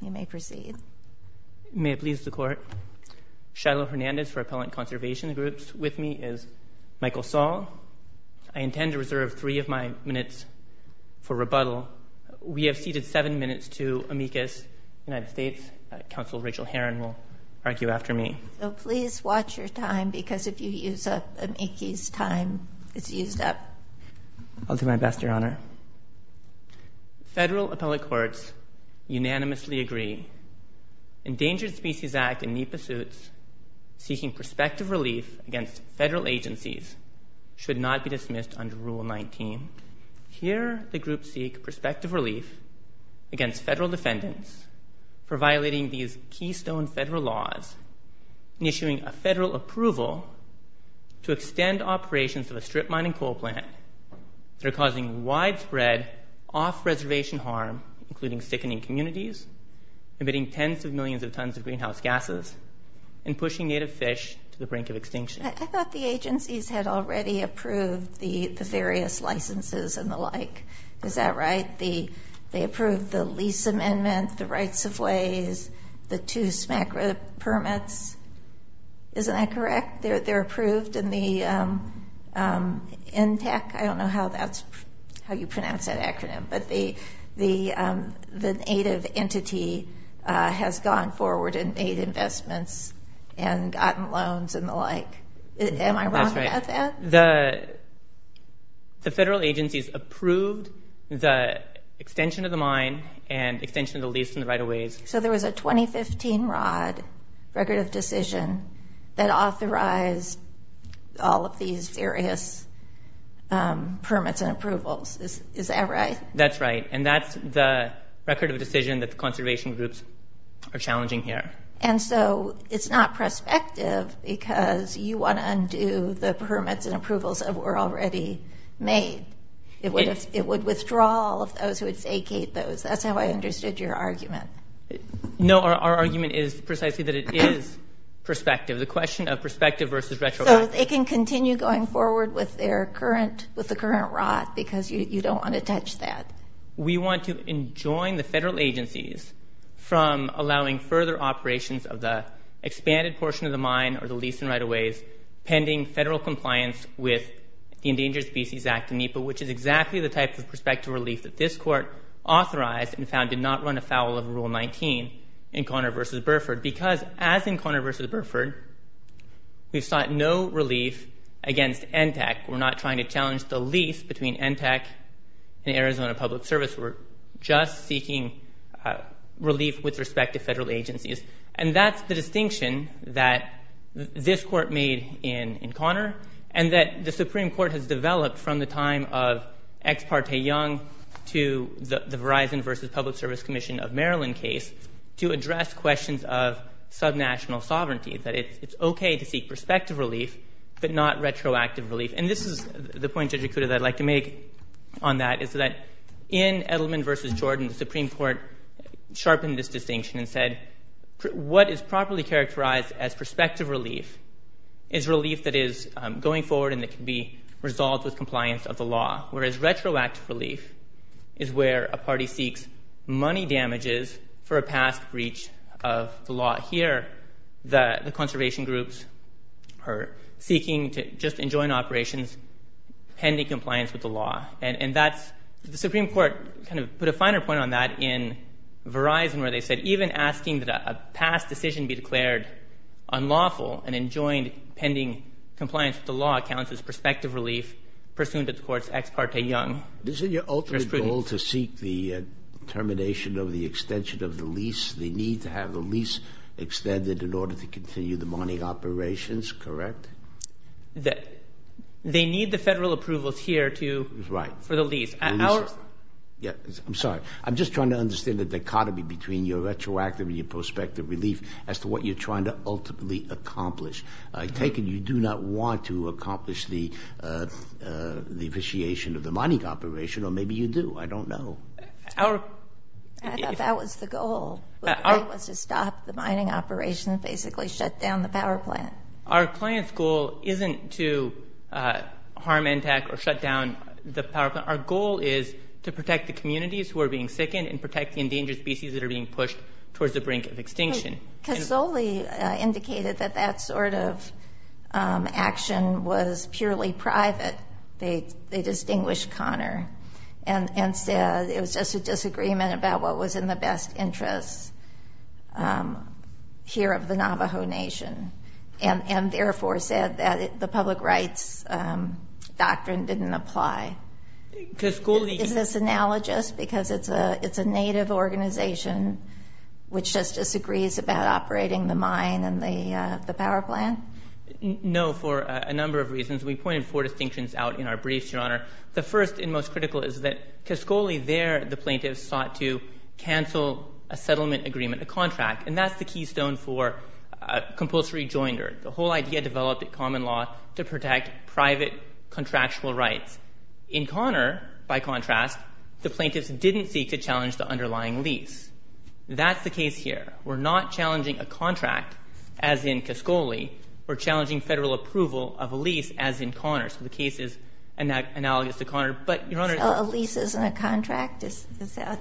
You may proceed. May it please the Court, Shiloh Hernandez for Appellant Conservation Groups. With me is Michael Saul. I intend to reserve three of my minutes for rebuttal. We have ceded seven minutes to amicus United States. Counsel Rachel Herron will argue after me. So please watch your time because if you use up amicus' time, it's used up. I'll do my best, Your Honor. Federal appellate courts unanimously agree. Endangered Species Act and NEPA suits seeking prospective relief against federal agencies should not be dismissed under Rule 19. Here, the group seek prospective relief against federal defendants for violating these keystone federal laws and issuing a federal approval to extend operations of a strip mining coal plant that are causing widespread off-reservation harm, including sickening communities, emitting tens of millions of tons of greenhouse gases, and pushing native fish to the brink of extinction. I thought the agencies had already approved the various licenses and the like. Is that right? They approved the lease amendment, the rights of ways, the two smack permits. Isn't that correct? They're approved in the NTAC. I don't know how you pronounce that acronym. But the native entity has gone forward and made investments and gotten loans and the like. Am I wrong about that? That's right. The federal agencies approved the extension of the mine and extension of the lease and the right of ways. So there was a 2015 ROD, Record of Decision, that authorized all of these various permits and approvals. Is that right? That's right. And that's the record of decision that the conservation groups are challenging here. And so it's not prospective because you want to undo the permits and approvals that were already made. It would withdraw all of those who would vacate those. That's how I understood your argument. No, our argument is precisely that it is prospective. The question of prospective versus retroactive. So they can continue going forward with the current ROD because you don't want to touch that. We want to enjoin the federal agencies from allowing further operations of the expanded portion of the mine or the lease and right of ways pending federal compliance with the Endangered Species Act in NEPA, which is exactly the type of prospective relief that this court authorized and found would not run afoul of Rule 19 in Conner versus Burford. Because as in Conner versus Burford, we've sought no relief against NTEC. We're not trying to challenge the lease between NTEC and Arizona Public Service. We're just seeking relief with respect to federal agencies. And that's the distinction that this court made in Conner and that the Supreme Court has developed from the time of Ex Parte Young to the Verizon versus Public Service Commission of Maryland case to address questions of subnational sovereignty. That it's OK to seek prospective relief, but not retroactive relief. And this is the point, Judge Ikuda, that I'd like to make on that. Is that in Edelman versus Jordan, the Supreme Court sharpened this distinction and said what is properly characterized as prospective relief is relief that is going forward and that can be resolved with compliance of the law. Whereas retroactive relief is where a party seeks money damages for a past breach of the law. Here, the conservation groups are seeking to just enjoin operations pending compliance with the law. And the Supreme Court kind of put a finer point on that in Verizon, where they said even asking that a past decision be declared unlawful and enjoined pending compliance with the law counts as prospective relief pursuant to the court's Ex Parte Young jurisprudence. Isn't your ultimate goal to seek the termination of the extension of the lease, the need to have the lease extended in order to continue the mining operations, correct? They need the federal approvals here for the lease. I'm sorry. I'm just trying to understand the dichotomy between your retroactive and your prospective relief as to what you're trying to ultimately accomplish. I take it you do not want to accomplish the officiation of the mining operation, or maybe you do. I don't know. I thought that was the goal, was to stop the mining operation, basically shut down the power plant. Our client's goal isn't to harm, attack, or shut down the power plant. Our goal is to protect the communities who are being sickened and protect the endangered species that are being pushed towards the brink of extinction. Cazzoli indicated that that sort of action was purely private. They distinguished Connor and said it was just a disagreement about what was in the best interests here of the Navajo Nation, and therefore said that the public rights doctrine didn't apply. Is this analogous? Because it's a native organization which just disagrees about operating the mine and the power plant? No, for a number of reasons. We pointed four distinctions out in our briefs, Your Honor. The first and most critical is that Cazzoli, there, the plaintiffs sought to cancel a settlement agreement, a contract. And that's the keystone for compulsory joinder, the whole idea developed at common law to protect private contractual rights. In Connor, by contrast, the plaintiffs didn't seek to challenge the underlying lease. That's the case here. We're not challenging a contract, as in Cazzoli. We're challenging federal approval of a lease, as in Connor. So the case is analogous to Connor. But, Your Honor, So a lease isn't a contract?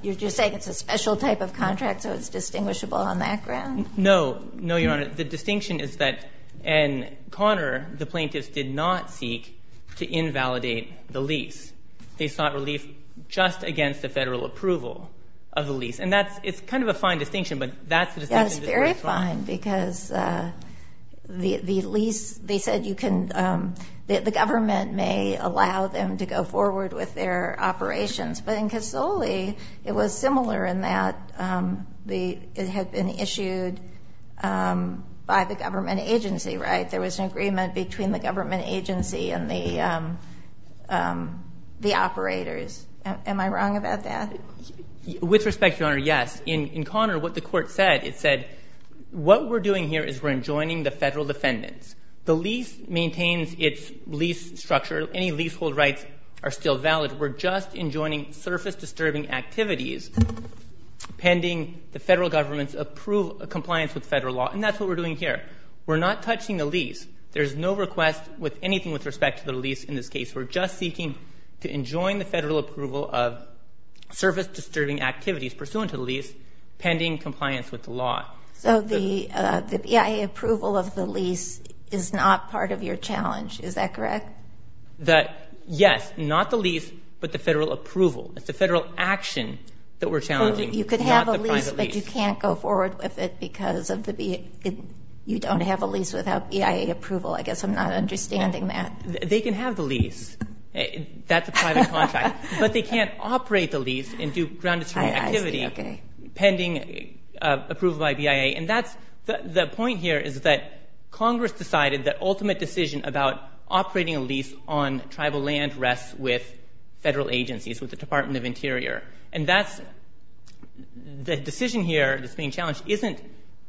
You're saying it's a special type of contract, so it's distinguishable on that ground? No, no, Your Honor. The distinction is that in Connor, They sought relief just against a federal approval of the lease. And it's kind of a fine distinction, but that's the distinction that's very fine. Yes, very fine, because the government may allow them to go forward with their operations. But in Cazzoli, it was similar in that it had been issued by the government agency, right? There was an agreement between the government agency and the operators. Am I wrong about that? With respect, Your Honor, yes. In Connor, what the court said, it said, what we're doing here is we're enjoining the federal defendants. The lease maintains its lease structure. Any leasehold rights are still valid. We're just enjoining surface-disturbing activities pending the federal government's compliance with federal law. And that's what we're doing here. We're not touching the lease. There's no request with anything with respect to the lease in this case. We're just seeking to enjoin the federal approval of surface-disturbing activities pursuant to the lease pending compliance with the law. So the BIA approval of the lease is not part of your challenge. Is that correct? Yes, not the lease, but the federal approval. It's the federal action that we're challenging, not the private lease. But you can't go forward with it because you don't have a lease without BIA approval. I guess I'm not understanding that. They can have the lease. That's a private contract. But they can't operate the lease and do ground-destroying activity pending approval by BIA. And the point here is that Congress decided the ultimate decision about operating a lease on tribal land rests with federal agencies, with the Department of Interior. And the decision here that's being challenged isn't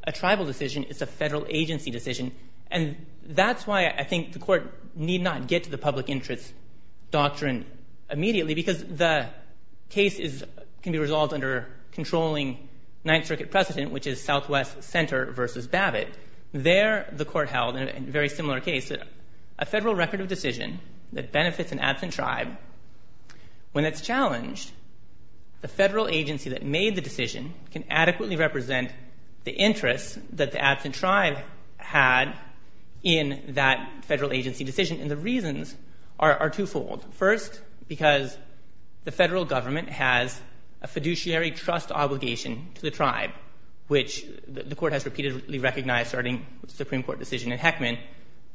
a tribal decision. It's a federal agency decision. And that's why I think the court need not get to the public interest doctrine immediately because the case can be resolved under controlling Ninth Circuit precedent, which is Southwest Center versus Babbitt. There, the court held in a very similar case that a federal record of decision that benefits an absent tribe, when it's challenged, the federal agency that made the decision can adequately represent the interests that the absent tribe had in that federal agency decision. And the reasons are twofold. First, because the federal government has a fiduciary trust obligation to the tribe, which the court has repeatedly recognized starting with the Supreme Court decision in Heckman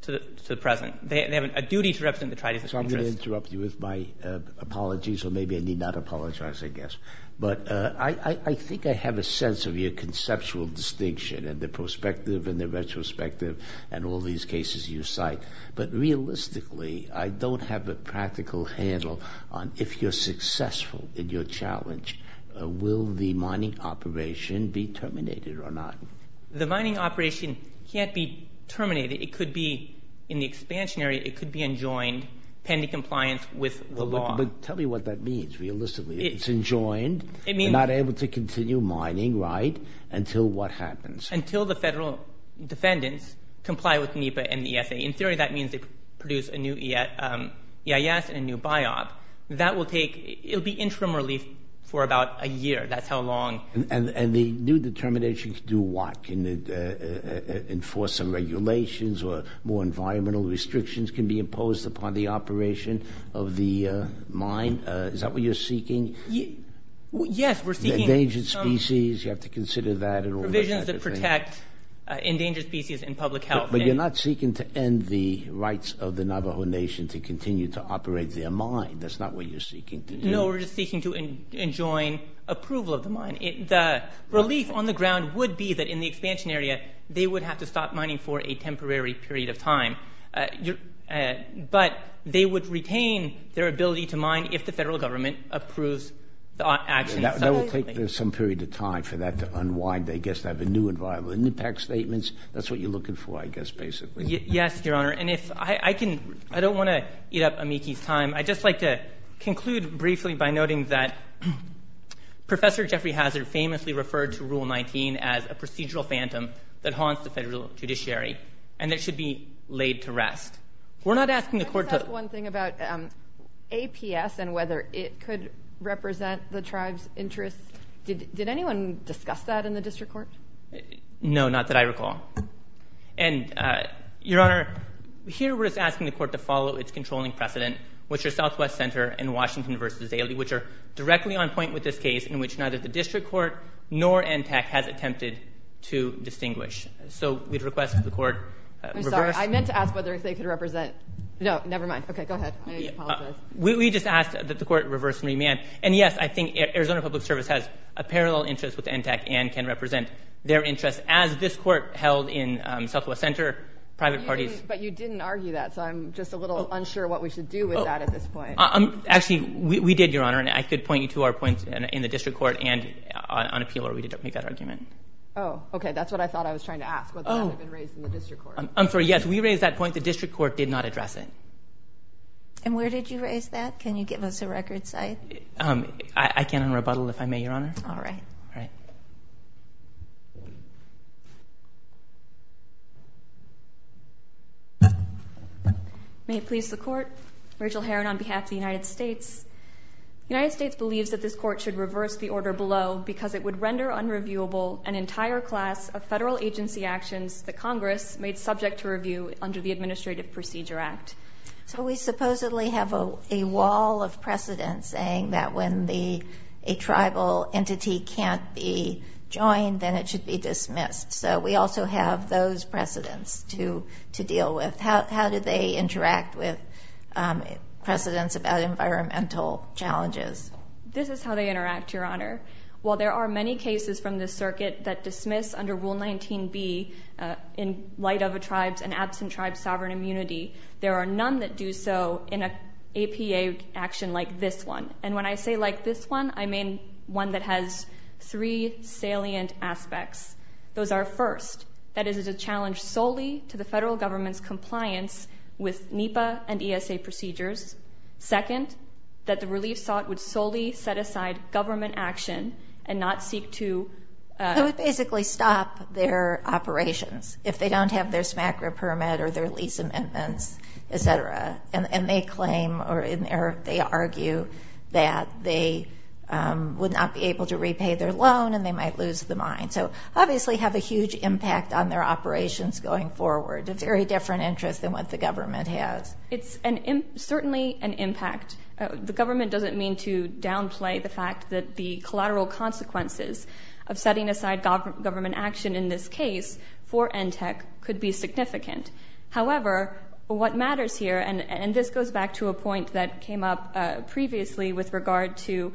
to the present. They have a duty to represent the tribe's interest. So I'm going to interrupt you with my apologies. Or maybe I need not apologize, I guess. But I think I have a sense of your conceptual distinction and the perspective and the retrospective and all these cases you cite. But realistically, I don't have a practical handle on if you're successful in your challenge, will the mining operation be terminated or not? The mining operation can't be terminated. It could be, in the expansionary, it could be enjoined pending compliance with the law. But tell me what that means, realistically. It's enjoined, you're not able to continue mining, right? Until what happens? Until the federal defendants comply with NEPA and the ESA. In theory, that means they produce a new EIS and a new biop. That will take, it'll be interim relief for about a year. That's how long. And the new determination can do what? Can it enforce some regulations or more environmental restrictions can be imposed upon the operation of the mine? Is that what you're seeking? Yes, we're seeking. Endangered species, you have to consider that and all that. Provisions that protect endangered species in public health. But you're not seeking to end the rights of the Navajo Nation to continue to operate their mine. That's not what you're seeking to do. No, we're just seeking to enjoin approval of the mine. The relief on the ground would be that in the expansion area they would have to stop mining for a temporary period of time but they would retain their ability to mine if the federal government approves the action. That will take some period of time for that to unwind. They get to have a new environment. And the PAC statements, that's what you're looking for, I guess, basically. Yes, Your Honor. And I don't want to eat up Amiki's time. I'd just like to conclude briefly by noting that Professor Jeffrey Hazzard famously referred to Rule 19 as a procedural phantom that haunts the federal judiciary and it should be laid to rest. We're not asking the court to- Can I ask one thing about APS and whether it could represent the tribe's interests? Did anyone discuss that in the district court? No, not that I recall. And Your Honor, here we're just asking the court to follow its controlling precedent, which are Southwest Center and Washington v. Daly, which are directly on point with this case in which neither the district court nor NTAC has attempted to distinguish. So we'd request that the court- I'm sorry, I meant to ask whether they could represent- No, nevermind. Okay, go ahead. I apologize. We just asked that the court reverse and remand. And yes, I think Arizona Public Service has a parallel interest with NTAC and can represent their interests as this court held in Southwest Center. Private parties- But you didn't argue that, so I'm just a little unsure what we should do with that at this point. Actually, we did, Your Honor, and I could point you to our points in the district court and on appeal where we did make that argument. Oh, okay. That's what I thought I was trying to ask, whether that had been raised in the district court. I'm sorry. Yes, we raised that point. The district court did not address it. And where did you raise that? Can you give us a record site? I can on rebuttal if I may, Your Honor. All right. All right. Thank you. May it please the court. Rachel Heron on behalf of the United States. United States believes that this court should reverse the order below because it would render unreviewable an entire class of federal agency actions that Congress made subject to review under the Administrative Procedure Act. So we supposedly have a wall of precedent saying that when a tribal entity can't be joined, then it should be dismissed. So we also have those precedents to deal with. How do they interact with precedents about environmental challenges? This is how they interact, Your Honor. While there are many cases from this circuit that dismiss under Rule 19B, in light of a tribe's and absent tribe's sovereign immunity, there are none that do so in a APA action like this one. And when I say like this one, I mean one that has three salient aspects. Those are, first, that it is a challenge solely to the federal government's compliance with NEPA and ESA procedures. Second, that the relief sought would solely set aside government action and not seek to- It would basically stop their operations if they don't have their SMACRA permit or their lease amendments, et cetera. And they claim or they argue that they would not be able to repay their loan and they might lose the mine. So obviously have a huge impact on their operations going forward. A very different interest than what the government has. It's certainly an impact. The government doesn't mean to downplay the fact that the collateral consequences of setting aside government action in this case for NTEC could be significant. However, what matters here, and this goes back to a point that came up previously with regard to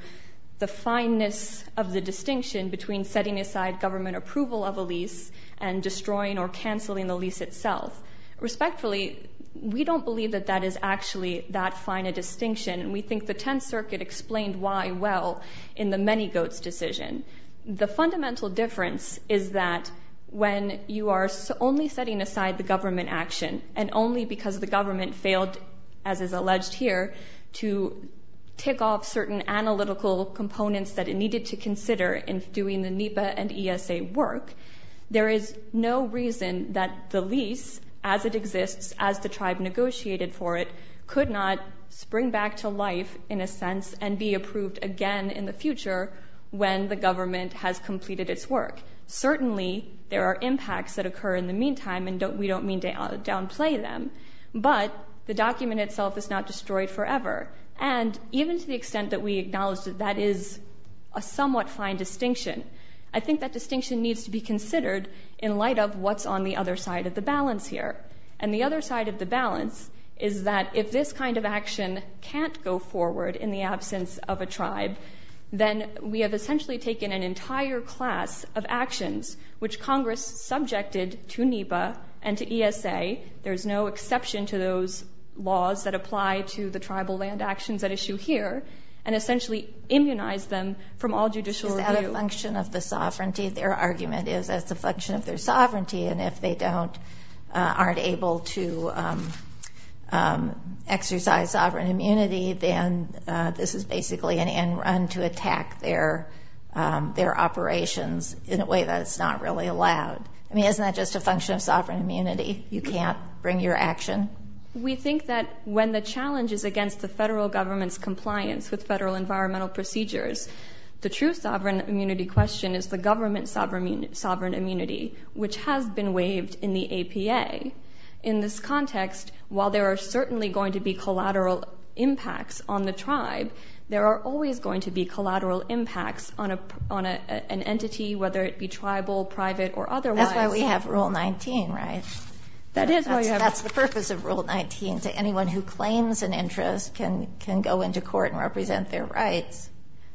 the fineness of the distinction between setting aside government approval of a lease and destroying or canceling the lease itself. Respectfully, we don't believe that that is actually that fine a distinction. And we think the 10th Circuit explained why well in the many goats decision. The fundamental difference is that when you are only setting aside the government action and only because the government failed as is alleged here to tick off certain analytical components that it needed to consider in doing the NEPA and ESA work, there is no reason that the lease as it exists as the tribe negotiated for it could not spring back to life in a sense and be approved again in the future when the government has completed its work. Certainly there are impacts that occur in the meantime and we don't mean to downplay them, but the document itself is not destroyed forever. And even to the extent that we acknowledge that that is a somewhat fine distinction, I think that distinction needs to be considered in light of what's on the other side of the balance here. And the other side of the balance is that if this kind of action can't go forward then we have essentially taken an entire class of actions which Congress subjected to NEPA and to ESA, there's no exception to those laws that apply to the tribal land actions at issue here, and essentially immunized them from all judicial review. Is that a function of the sovereignty? Their argument is that it's a function of their sovereignty and if they aren't able to exercise sovereign immunity then this is basically an end run to attack their operations in a way that it's not really allowed. I mean, isn't that just a function of sovereign immunity? You can't bring your action? We think that when the challenge is against the federal government's compliance with federal environmental procedures, the true sovereign immunity question is the government sovereign immunity which has been waived in the APA. In this context, while there are certainly going to be collateral impacts on the tribe, there are always going to be collateral impacts on an entity, whether it be tribal, private, or otherwise. That's why we have Rule 19, right? That is why we have it. That's the purpose of Rule 19, to anyone who claims an interest can go into court and represent their rights.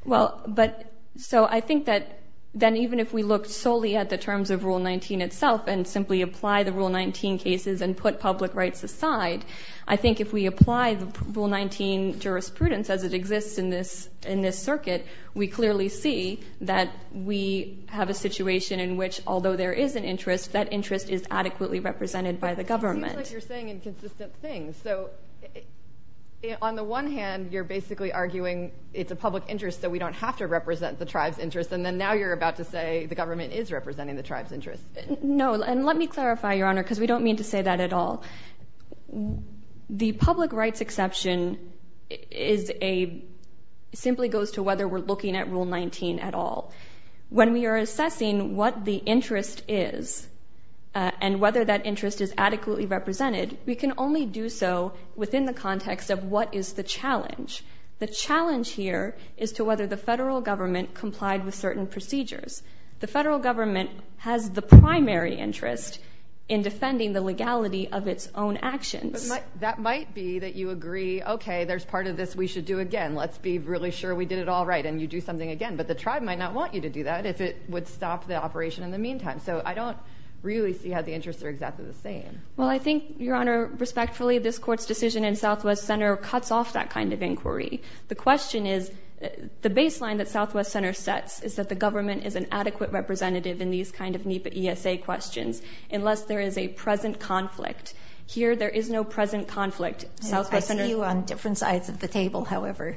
Well, but so I think that then even if we looked solely at the terms of Rule 19 itself and simply apply the Rule 19 cases and put public rights aside, I think if we apply the Rule 19 jurisprudence as it exists in this circuit, we clearly see that we have a situation in which although there is an interest, that interest is adequately represented by the government. It seems like you're saying inconsistent things. So on the one hand, you're basically arguing it's a public interest that we don't have to represent the tribe's interest, and then now you're about to say the government is representing the tribe's interest. No, and let me clarify, Your Honor, because we don't mean to say that at all. The public rights exception is a, simply goes to whether we're looking at Rule 19 at all. When we are assessing what the interest is and whether that interest is adequately represented, we can only do so within the context of what is the challenge. The challenge here is to whether the federal government complied with certain procedures. The federal government has the primary interest in defending the legality of its own actions. That might be that you agree, okay, there's part of this we should do again. Let's be really sure we did it all right, and you do something again. But the tribe might not want you to do that if it would stop the operation in the meantime. So I don't really see how the interests are exactly the same. Well, I think, Your Honor, respectfully, this court's decision in Southwest Center cuts off that kind of inquiry. The question is, the baseline that Southwest Center sets is that the government is an adequate representative in these kind of NEPA ESA questions unless there is a present conflict. Here, there is no present conflict. I see you on different sides of the table, however.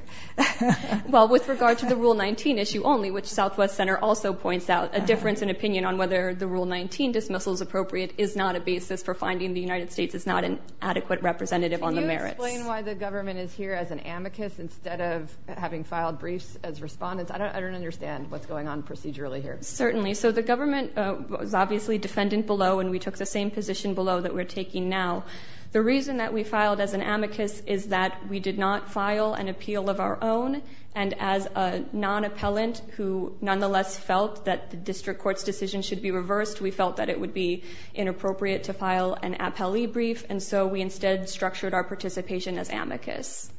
Well, with regard to the Rule 19 issue only, which Southwest Center also points out, a difference in opinion on whether the Rule 19 dismissal is appropriate is not a basis for finding the United States is not an adequate representative on the merits. Can you explain why the government is here as an amicus instead of having filed briefs as respondents? I don't understand what's going on procedurally here. Certainly. So the government was obviously defendant below, and we took the same position below that we're taking now. The reason that we filed as an amicus is that we did not file an appeal of our own, and as a non-appellant who nonetheless felt that the district court's decision should be reversed, we felt that it would be inappropriate to file an appellee brief, and so we instead structured our participation as amicus.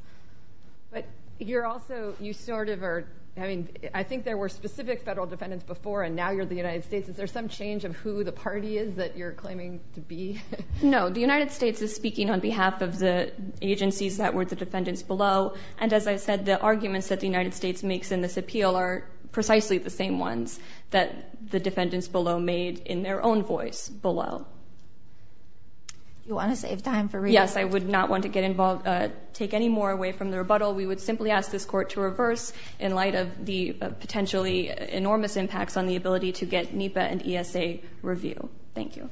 But you're also, you sort of are, I mean, I think there were specific federal defendants before, and now you're the United States. Is there some change of who the party is that you're claiming to be? No, the United States is speaking on behalf of the agencies that were the defendants below, and as I said, the arguments that the United States makes in this appeal are precisely the same ones that the defendants below made in their own voice below. You wanna save time for rebuttal? Yes, I would not want to get involved, take any more away from the rebuttal. We would simply ask this court to reverse in light of the potentially enormous impacts on the ability to get NEPA and ESA review. Thank you. Thank you.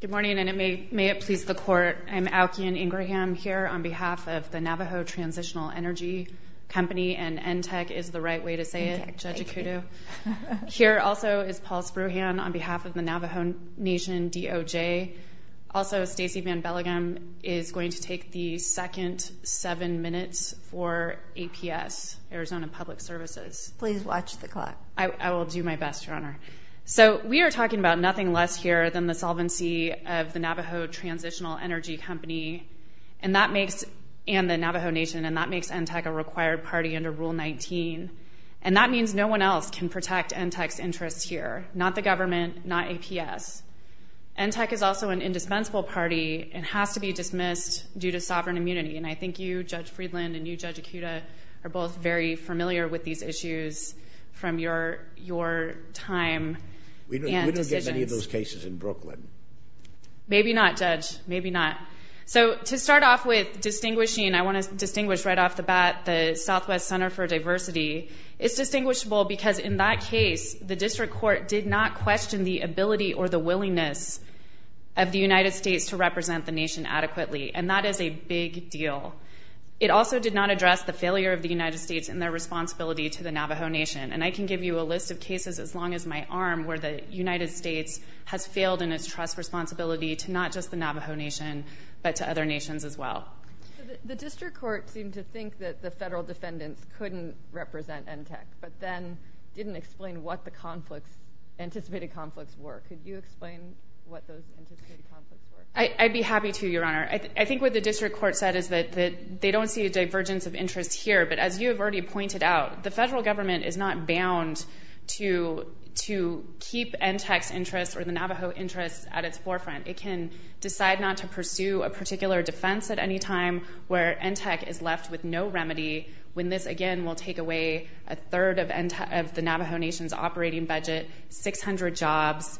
Good morning, and may it please the court, I'm Aukian Ingraham here on behalf of the Navajo Transitional Energy Company, and NTEC is the right way to say it, Judge Ikuto. Here also is Paul Spruhan on behalf of the Navajo Nation DOJ. Also, Stacey Van Belleghem is going to take the second seven minutes for APS, Arizona Public Services. Please watch the clock. I will do my best, Your Honor. So, we are talking about nothing less here than the solvency of the Navajo Transitional Energy Company, and that makes, and the Navajo Nation, and that makes NTEC a required party under Rule 19, and that means no one else can protect NTEC's interests here, not the government, not APS. NTEC is also an indispensable party, and has to be dismissed due to sovereign immunity, and I think you, Judge Friedland, and you, Judge Ikuto, are both very familiar with these issues from your time and decisions. We don't get many of those cases in Brooklyn. Maybe not, Judge, maybe not. So, to start off with distinguishing, I want to distinguish right off the bat the Southwest Center for Diversity. It's distinguishable because in that case, the district court did not question the ability or the willingness of the United States to represent the nation adequately, and that is a big deal. It also did not address the failure of the United States and their responsibility to the Navajo Nation, and I can give you a list of cases as long as my arm where the United States has failed in its trust responsibility to not just the Navajo Nation, but to other nations as well. The district court seemed to think that the federal defendants couldn't represent NTEC, but then didn't explain what the conflicts, anticipated conflicts were. Could you explain what those anticipated conflicts were? I'd be happy to, Your Honor. I think what the district court said is that they don't see a divergence of interest here, but as you have already pointed out, the federal government is not bound to keep NTEC's interest or the Navajo interest at its forefront. It can decide not to pursue a particular defense at any time where NTEC is left with no remedy when this, again, will take away a third of the Navajo Nation's operating budget, 600 jobs.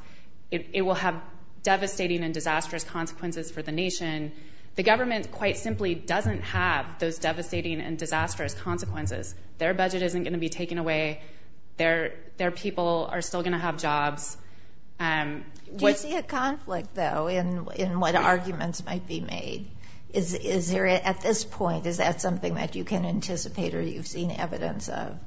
It will have devastating and disastrous consequences for the nation. The government quite simply doesn't have those devastating and disastrous consequences. Their budget isn't gonna be taken away. Their people are still gonna have jobs. Do you see a conflict, though, in what arguments might be made? Is there, at this point, is that something that you can anticipate or you've seen evidence of?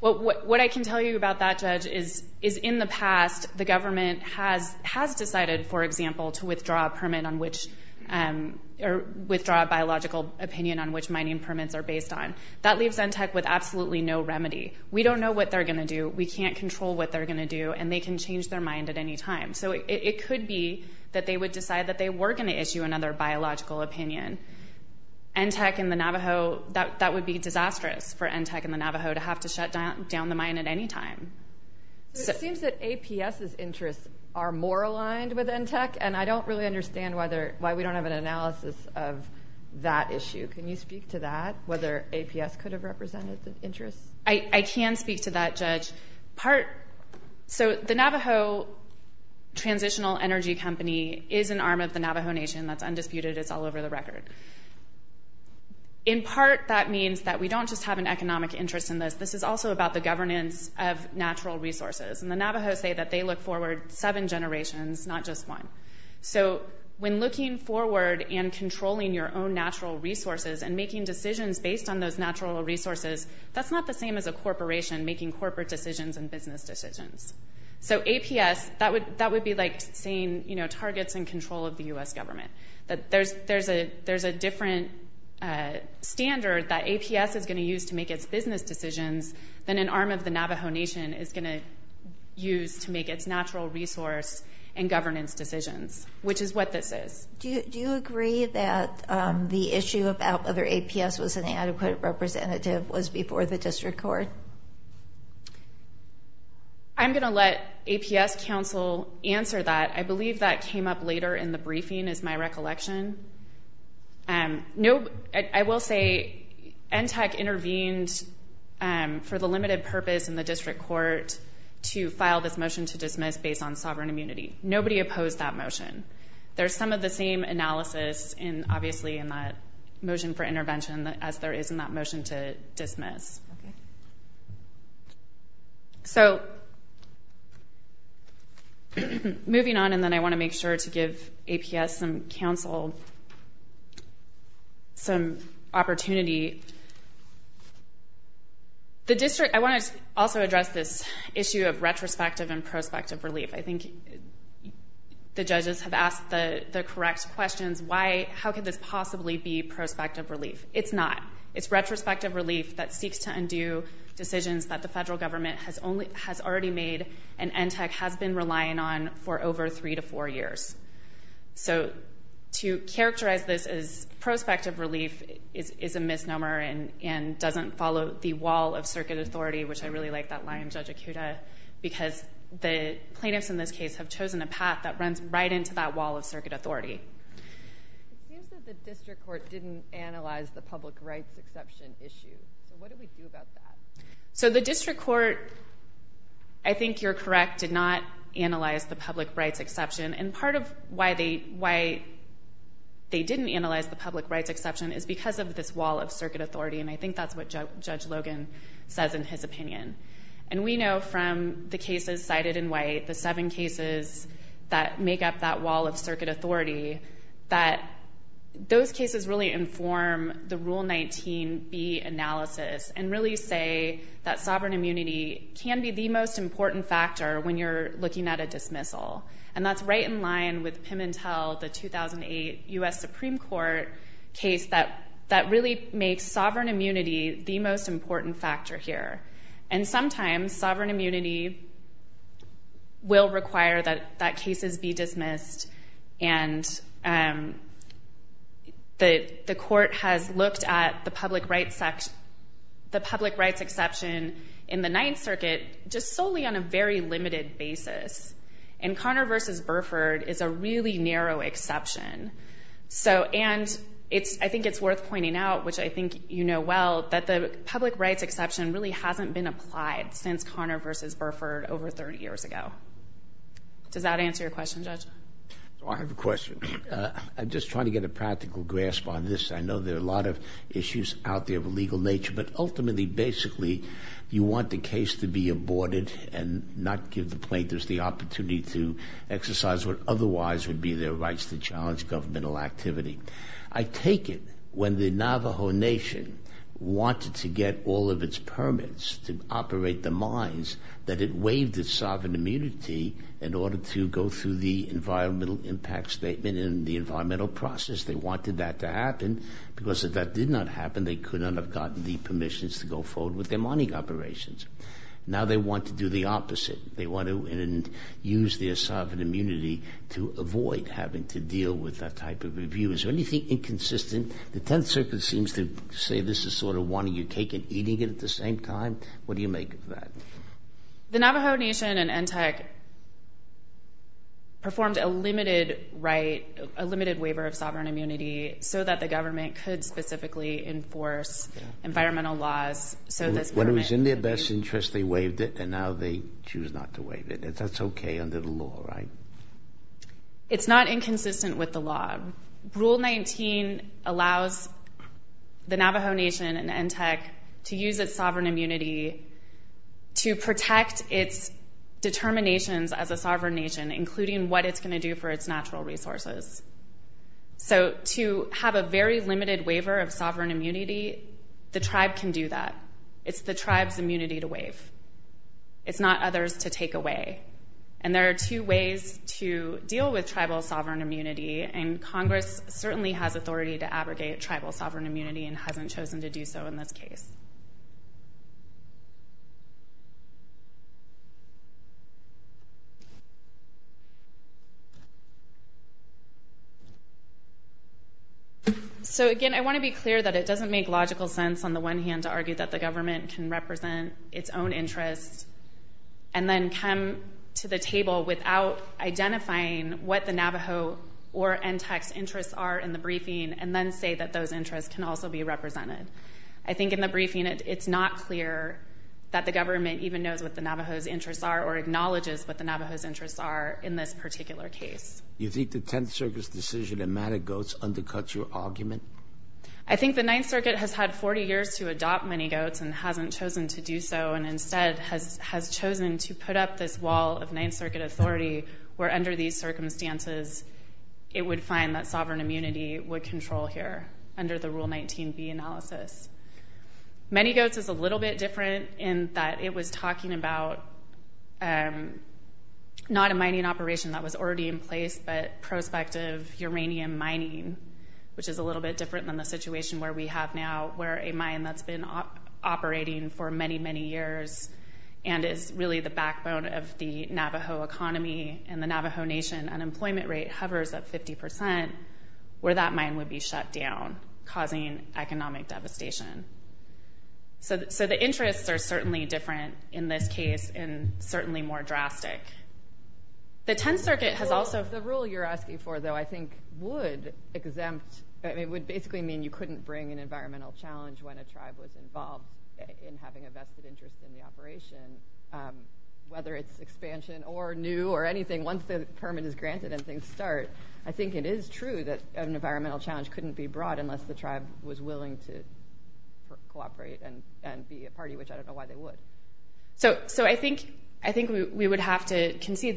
Well, what I can tell you about that, Judge, is in the past, the government has decided, for example, to withdraw a permit on which, or withdraw a biological opinion on which mining permits are based on. That leaves NTEC with absolutely no remedy. We don't know what they're gonna do. We can't control what they're gonna do, and they can change their mind at any time. So it could be that they would decide that they were gonna issue another biological opinion. NTEC and the Navajo, that would be disastrous for NTEC and the Navajo to have to shut down the mine at any time. It seems that APS's interests are more aligned with NTEC, and I don't really understand why we don't have an analysis of that issue. Can you speak to that, whether APS could have represented the interests? I can speak to that, Judge. So the Navajo Transitional Energy Company is an arm of the Navajo Nation. That's undisputed, it's all over the record. In part, that means that we don't just have an economic interest in this. This is also about the governance of natural resources, and the Navajos say that they look forward seven generations, not just one. So when looking forward and controlling your own natural resources and making decisions based on those natural resources, that's not the same as a corporation making corporate decisions and business decisions. So APS, that would be like saying targets and control of the U.S. government, that there's a different standard that APS is gonna use to make its business decisions than an arm of the Navajo Nation is gonna use to make its natural resource and governance decisions, which is what this is. Do you agree that the issue about whether APS was an adequate representative was before the district court? I'm gonna let APS counsel answer that. I believe that came up later in the briefing, is my recollection. No, I will say, NTAC intervened for the limited purpose in the district court to file this motion to dismiss based on sovereign immunity. Nobody opposed that motion. There's some of the same analysis, obviously, in that motion for intervention as there is in that motion to dismiss. So, moving on, and then I wanna make sure to give APS some counsel, some opportunity. The district, I wanna also address this issue of retrospective and prospective relief. I think the judges have asked the correct questions. Why, how could this possibly be prospective relief? It's not. It's retrospective relief that seeks to undo decisions that the federal government has already made and NTAC has been relying on for over three to four years. So, to characterize this as prospective relief is a misnomer and doesn't follow the wall of circuit authority, which I really like that line, Judge Akuta, because the plaintiffs in this case have chosen a path that runs right into that wall of circuit authority. It seems that the district court didn't analyze the public rights exception issue. So, what do we do about that? So, the district court, I think you're correct, did not analyze the public rights exception, and part of why they didn't analyze the public rights exception is because of this wall of circuit authority, and I think that's what Judge Logan says in his opinion. And we know from the cases cited in white, the seven cases that make up that wall of circuit authority, that those cases really inform the Rule 19B analysis and really say that sovereign immunity can be the most important factor when you're looking at a dismissal, and that's right in line with Pimentel, the 2008 U.S. Supreme Court case that really makes sovereign immunity the most important factor here. And sometimes, sovereign immunity will require that cases be dismissed, and the court has looked at the public rights exception in the Ninth Circuit just solely on a very limited basis, and Connor v. Burford is a really narrow exception. So, and I think it's worth pointing out, which I think you know well, that the public rights exception really hasn't been applied since Connor v. Burford over 30 years ago. Does that answer your question, Judge? So I have a question. I'm just trying to get a practical grasp on this. I know there are a lot of issues out there of a legal nature, but ultimately, basically, you want the case to be aborted and not give the plaintiffs the opportunity to exercise what otherwise would be their rights to challenge governmental activity. I take it when the Navajo Nation wanted to get all of its permits to operate the mines, that it waived its sovereign immunity in order to go through the environmental impact statement and the environmental process. They wanted that to happen, because if that did not happen, they could not have gotten the permissions to go forward with their mining operations. Now they want to do the opposite. They want to use their sovereign immunity to avoid having to deal with that type of review. Is there anything inconsistent? The Tenth Circuit seems to say this is sort of wanting your cake and eating it at the same time. What do you make of that? The Navajo Nation and ENTEC performed a limited waiver of sovereign immunity so that the government could specifically enforce environmental laws so this permit could be... When it was in their best interest, they waived it, and now they choose not to waive it. That's okay under the law, right? It's not inconsistent with the law. Rule 19 allows the Navajo Nation and ENTEC to use its sovereign immunity to protect its determinations as a sovereign nation, including what it's going to do for its natural resources. So to have a very limited waiver of sovereign immunity, the tribe can do that. It's the tribe's immunity to waive. It's not others' to take away. And there are two ways to deal with tribal sovereign immunity and Congress certainly has authority to abrogate tribal sovereign immunity and hasn't chosen to do so in this case. So again, I want to be clear that it doesn't make logical sense on the one hand to argue that the government can represent its own interests and then come to the table without identifying what the Navajo or ENTEC's interests are in the briefing and then say that those interests can also be represented. I think in the briefing, it's not clear that the government even knows what the Navajo's interests are or acknowledges what the Navajo's interests are in this particular case. I think the Ninth Circuit has had 40 years to adopt mini-goats and hasn't chosen to do so and instead has chosen to put up this wall of Ninth Circuit authority where under these circumstances, it would find that sovereign immunity would control here under the Rule 19b analysis. Mini-goats is a little bit different in that it was talking about not a mining operation that was already in place but prospective uranium mining, which is a little bit different than the situation where we have now where a mine that's been operating for many, many years and is really the backbone of the Navajo economy and the Navajo Nation unemployment rate hovers at 50% where that mine would be shut down, causing economic devastation. So the interests are certainly different in this case and certainly more drastic. The Tenth Circuit has also- The rule you're asking for though, I think would exempt, it would basically mean you couldn't bring an environmental challenge when a tribe was involved in having a vested interest in the operation, whether it's expansion or new or anything. Once the permit is granted and things start, I think it is true that an environmental challenge couldn't be brought unless the tribe was willing to cooperate and be a party, which I don't know why they would. So I think we would have to concede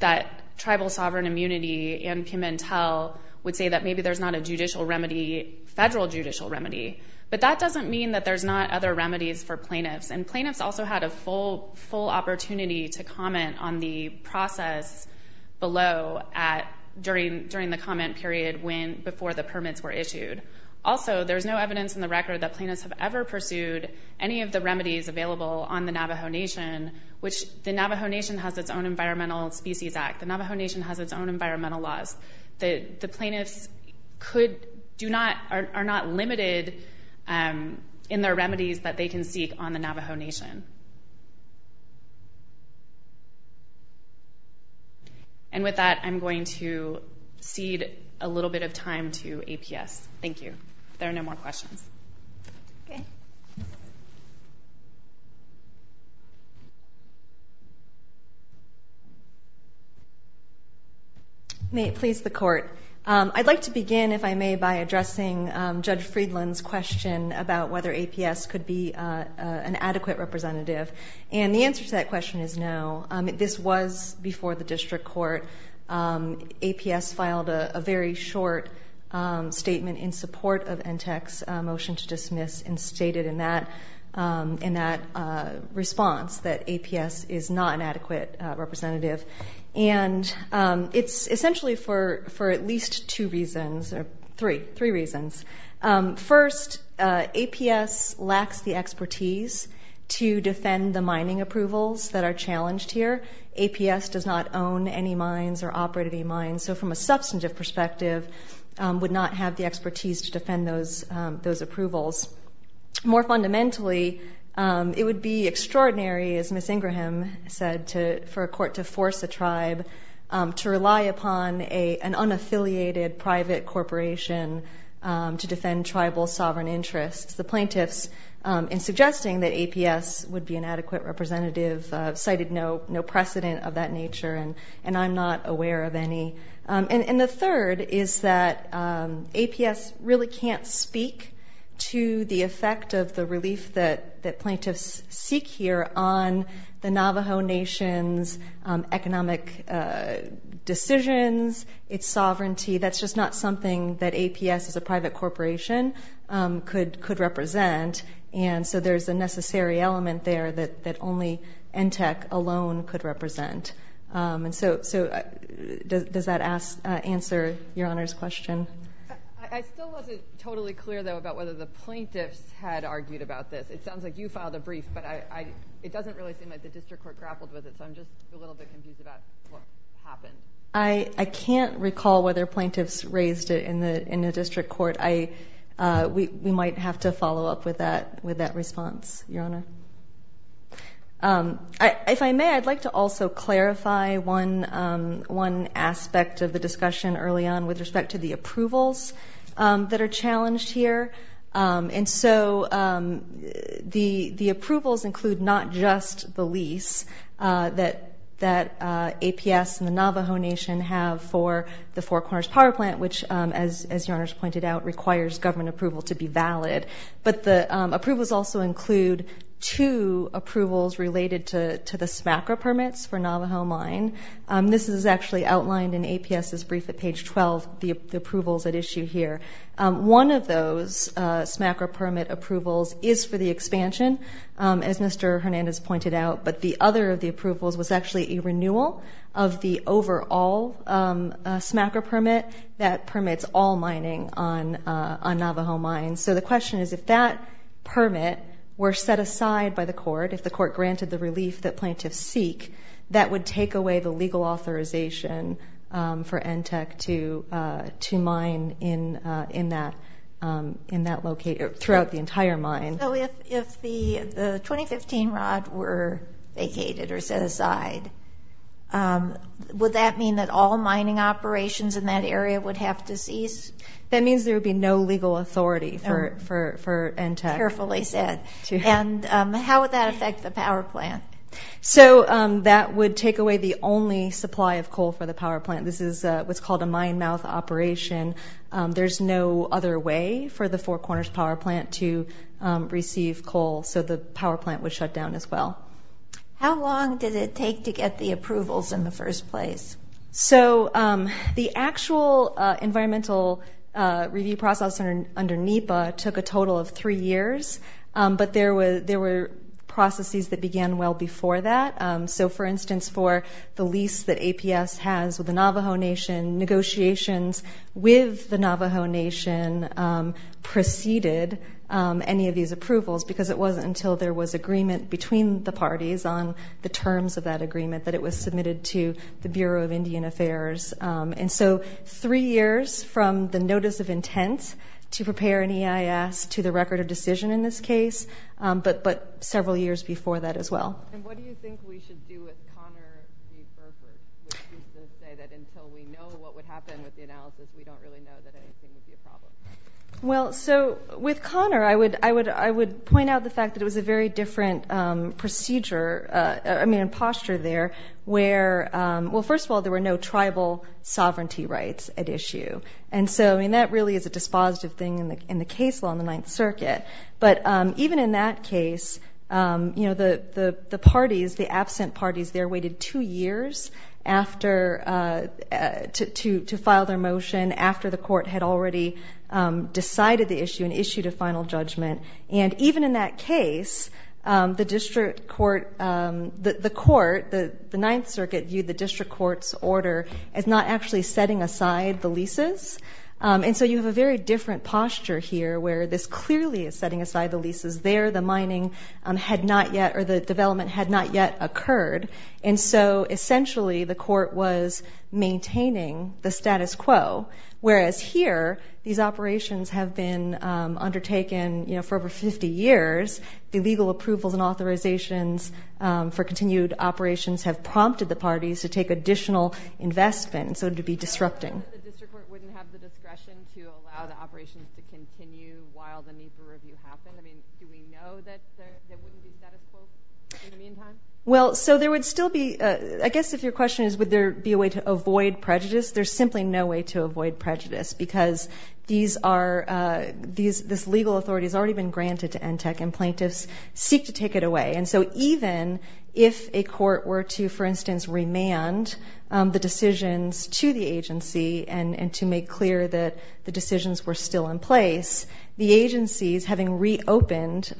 that tribal sovereign immunity and Pimentel would say that maybe there's not a judicial remedy, federal judicial remedy, but that doesn't mean that there's not other remedies for plaintiffs and plaintiffs also had a full opportunity to comment on the process below during the comment period before the permits were issued. Also, there's no evidence in the record that plaintiffs have ever pursued any of the remedies available on the Navajo Nation, which the Navajo Nation has its own Environmental Species Act. The Navajo Nation has its own environmental laws. The plaintiffs are not limited in their remedies that they can seek on the Navajo Nation. And with that, I'm going to cede a little bit of time to APS. Thank you. There are no more questions. Okay. May it please the court. I'd like to begin, if I may, by addressing Judge Friedland's question about whether APS could be an adequate representative. And the answer to that question is no. This was before the district court. APS filed a very short statement in support of NTEC's motion to dismiss and stated in that response that APS is not an adequate representative. And it's essentially for at least two reasons, or three, three reasons. First, APS lacks the expertise to defend the mining approvals that are challenged here. APS does not own any mines or operate any mines. So from a substantive perspective, would not have the expertise to defend those approvals. More fundamentally, it would be extraordinary, as Ms. Ingraham said, for a court to force a tribe to rely upon an unaffiliated private corporation to defend tribal sovereign interests. The plaintiffs, in suggesting that APS would be an adequate representative, cited no precedent of that nature, and I'm not aware of any. And the third is that APS really can't speak to the effect of the relief that plaintiffs seek here on the Navajo Nation's economic decisions, its sovereignty. That's just not something that APS as a private corporation could represent. And so there's a necessary element there that only NTEC alone could represent. And so does that answer Your Honor's question? I still wasn't totally clear, though, about whether the plaintiffs had argued about this. It sounds like you filed a brief, but it doesn't really seem like the district court grappled with it, so I'm just a little bit confused about what happened. I can't recall whether plaintiffs raised it in the district court. We might have to follow up with that response, Your Honor. If I may, I'd like to also clarify one aspect of the discussion early on with respect to the approvals that are challenged here. And so the approvals include not just the lease that APS and the Navajo Nation have for the Four Corners Power Plant, which, as Your Honor's pointed out, requires government approval to be valid. But the approvals also include two approvals related to the SMACRA permits for Navajo Mine. This is actually outlined in APS's brief at page 12, the approvals at issue here. One of those SMACRA permit approvals is for the expansion, as Mr. Hernandez pointed out, but the other of the approvals was actually a renewal of the overall SMACRA permit that permits all mining on Navajo Mine. So the question is, if that permit were set aside by the court, if the court granted the relief that plaintiffs seek, that would take away the legal authorization for ENTEC to mine in that location, throughout the entire mine. So if the 2015 rod were vacated or set aside, would that mean that all mining operations in that area would have to cease? That means there would be no legal authority for ENTEC. Carefully said. And how would that affect the power plant? So that would take away the only supply of coal for the power plant. This is what's called a mine mouth operation. There's no other way for the Four Corners Power Plant to receive coal, so the power plant would shut down as well. How long did it take to get the approvals in the first place? So the actual environmental review process under NEPA took a total of three years, but there were processes that began well before that. So for instance, for the lease that APS has with the Navajo Nation, negotiations with the Navajo Nation preceded any of these approvals because it wasn't until there was agreement between the parties on the terms of that agreement that it was submitted to the Bureau of Indian Affairs. And so three years from the notice of intent to prepare an EIS to the record of decision in this case, but several years before that as well. And what do you think we should do with Connor B. Burford, which is to say that until we know what would happen with the analysis, we don't really know that anything would be a problem? Well, so with Connor, I would point out the fact that it was a very different procedure, I mean, posture there where, well, first of all, there were no tribal sovereignty rights at issue. And so, I mean, that really is a dispositive thing in the case law in the Ninth Circuit. But even in that case, the parties, the absent parties there waited two years to file their motion after the court had already decided the issue and issued a final judgment. And even in that case, the court, the Ninth Circuit viewed the district court's order as not actually setting aside the leases. And so you have a very different posture here where this clearly is setting aside the leases there, the mining had not yet, or the development had not yet occurred. And so essentially the court was maintaining the status quo. Whereas here, these operations have been undertaken, for over 50 years, the legal approvals and authorizations for continued operations have prompted the parties to take additional investment, so to be disrupting. The district court wouldn't have the discretion to allow the operations to continue while the need for review happened? I mean, do we know that wouldn't be status quo in the meantime? Well, so there would still be, I guess if your question is, would there be a way to avoid prejudice? There's simply no way to avoid prejudice because this legal authority has already been granted to NTTAC and plaintiffs seek to take it away. And so even if a court were to, for instance, remand the decisions to the agency and to make clear that the decisions were still in place, the agencies having reopened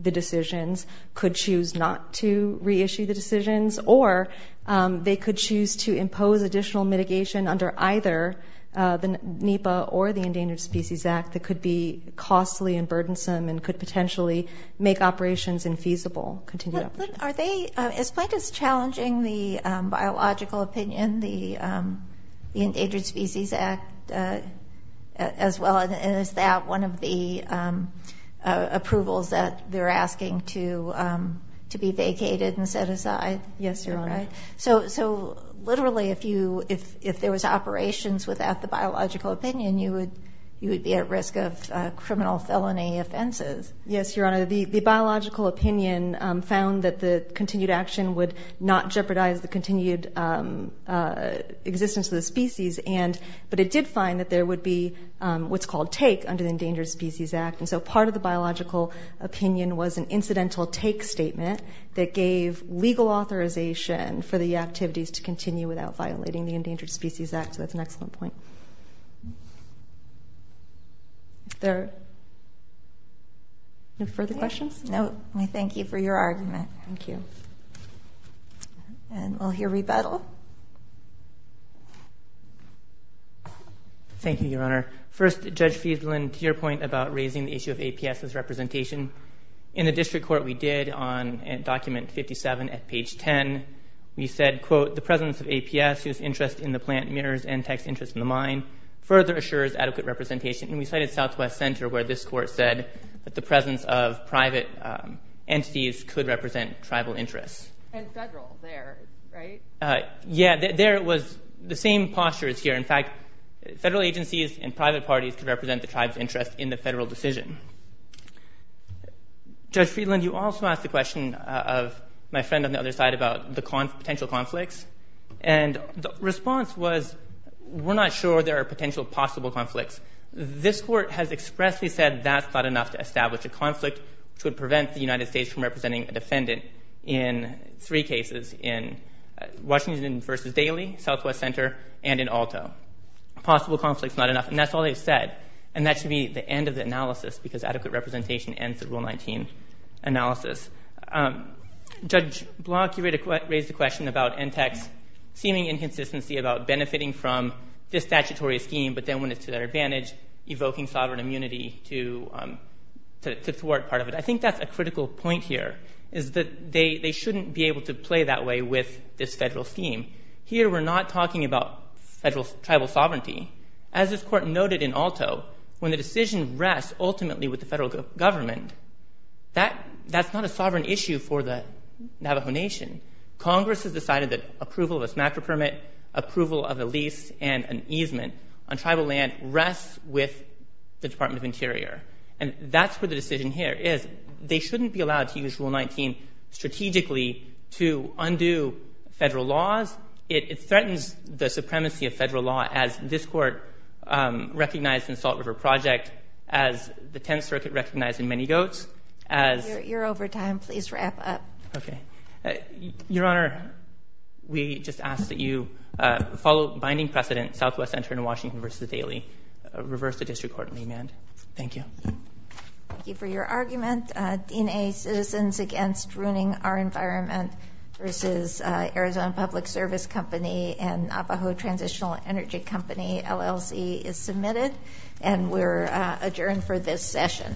the decisions could choose not to reissue the decisions, or they could choose to impose additional mitigation under either the NEPA or the Endangered Species Act that could be costly and burdensome and could potentially make operations infeasible, continued operations. But are they, as plaintiffs challenging the biological opinion, the Endangered Species Act, as well, and is that one of the approvals that they're asking to be vacated and set aside? Yes, Your Honor. So literally, if there was operations without the biological opinion, you would be at risk of criminal felony offenses. Yes, Your Honor. The biological opinion found that the continued action would not jeopardize the continued existence of the species, but it did find that there would be what's called take under the Endangered Species Act. And so part of the biological opinion was an incidental take statement that gave legal authorization for the activities to continue without violating the Endangered Species Act. So that's an excellent point. There are no further questions? No, we thank you for your argument. Thank you. And we'll hear rebuttal. Thank you, Your Honor. First, Judge Fiesland, to your point about raising the issue of APS as representation, in the district court we did on document 57 at page 10, we said, quote, the presence of APS whose interest in the plant mirrors NTAC's interest in the mine further assures adequate representation. And we cited Southwest Center where this court said that the presence of private entities could represent tribal interests. And federal there, right? Yeah, there was the same postures here. In fact, federal agencies and private parties could represent the tribe's interest in the federal decision. Judge Fiesland, you also asked the question of my friend on the other side about the potential conflicts. And the response was, we're not sure there are potential possible conflicts. This court has expressly said that's not enough to establish a conflict which would prevent the United States from representing a defendant in three cases, in Washington versus Daly, Southwest Center, and in Alto. Possible conflict's not enough. And that's all they've said. And that should be the end of the analysis because adequate representation ends the Rule 19 analysis. Judge Block, you raised a question about NTAC's seeming inconsistency about benefiting from this statutory scheme, but then when it's to their advantage, evoking sovereign immunity to thwart part of it. I think that's a critical point here is that they shouldn't be able to play that way with this federal scheme. Here, we're not talking about federal tribal sovereignty. As this court noted in Alto, when the decision rests ultimately with the federal government, that's not a sovereign issue for the Navajo Nation. Congress has decided that approval of a smacker permit, approval of a lease, and an easement on tribal land rests with the Department of Interior. And that's where the decision here is. They shouldn't be allowed to use Rule 19 strategically to undo federal laws. It threatens the supremacy of federal law as this court recognized in the Salt River Project, as the 10th Circuit recognized in Many Goats, as- You're over time, please wrap up. Okay. Your Honor, we just ask that you follow binding precedent, Southwest Center in Washington versus the Daly. Reverse the district court in the amend. Thank you. Thank you for your argument. DNA Citizens Against Ruining Our Environment versus Arizona Public Service Company and Navajo Transitional Energy Company, LLC is submitted. And we're adjourned for this session.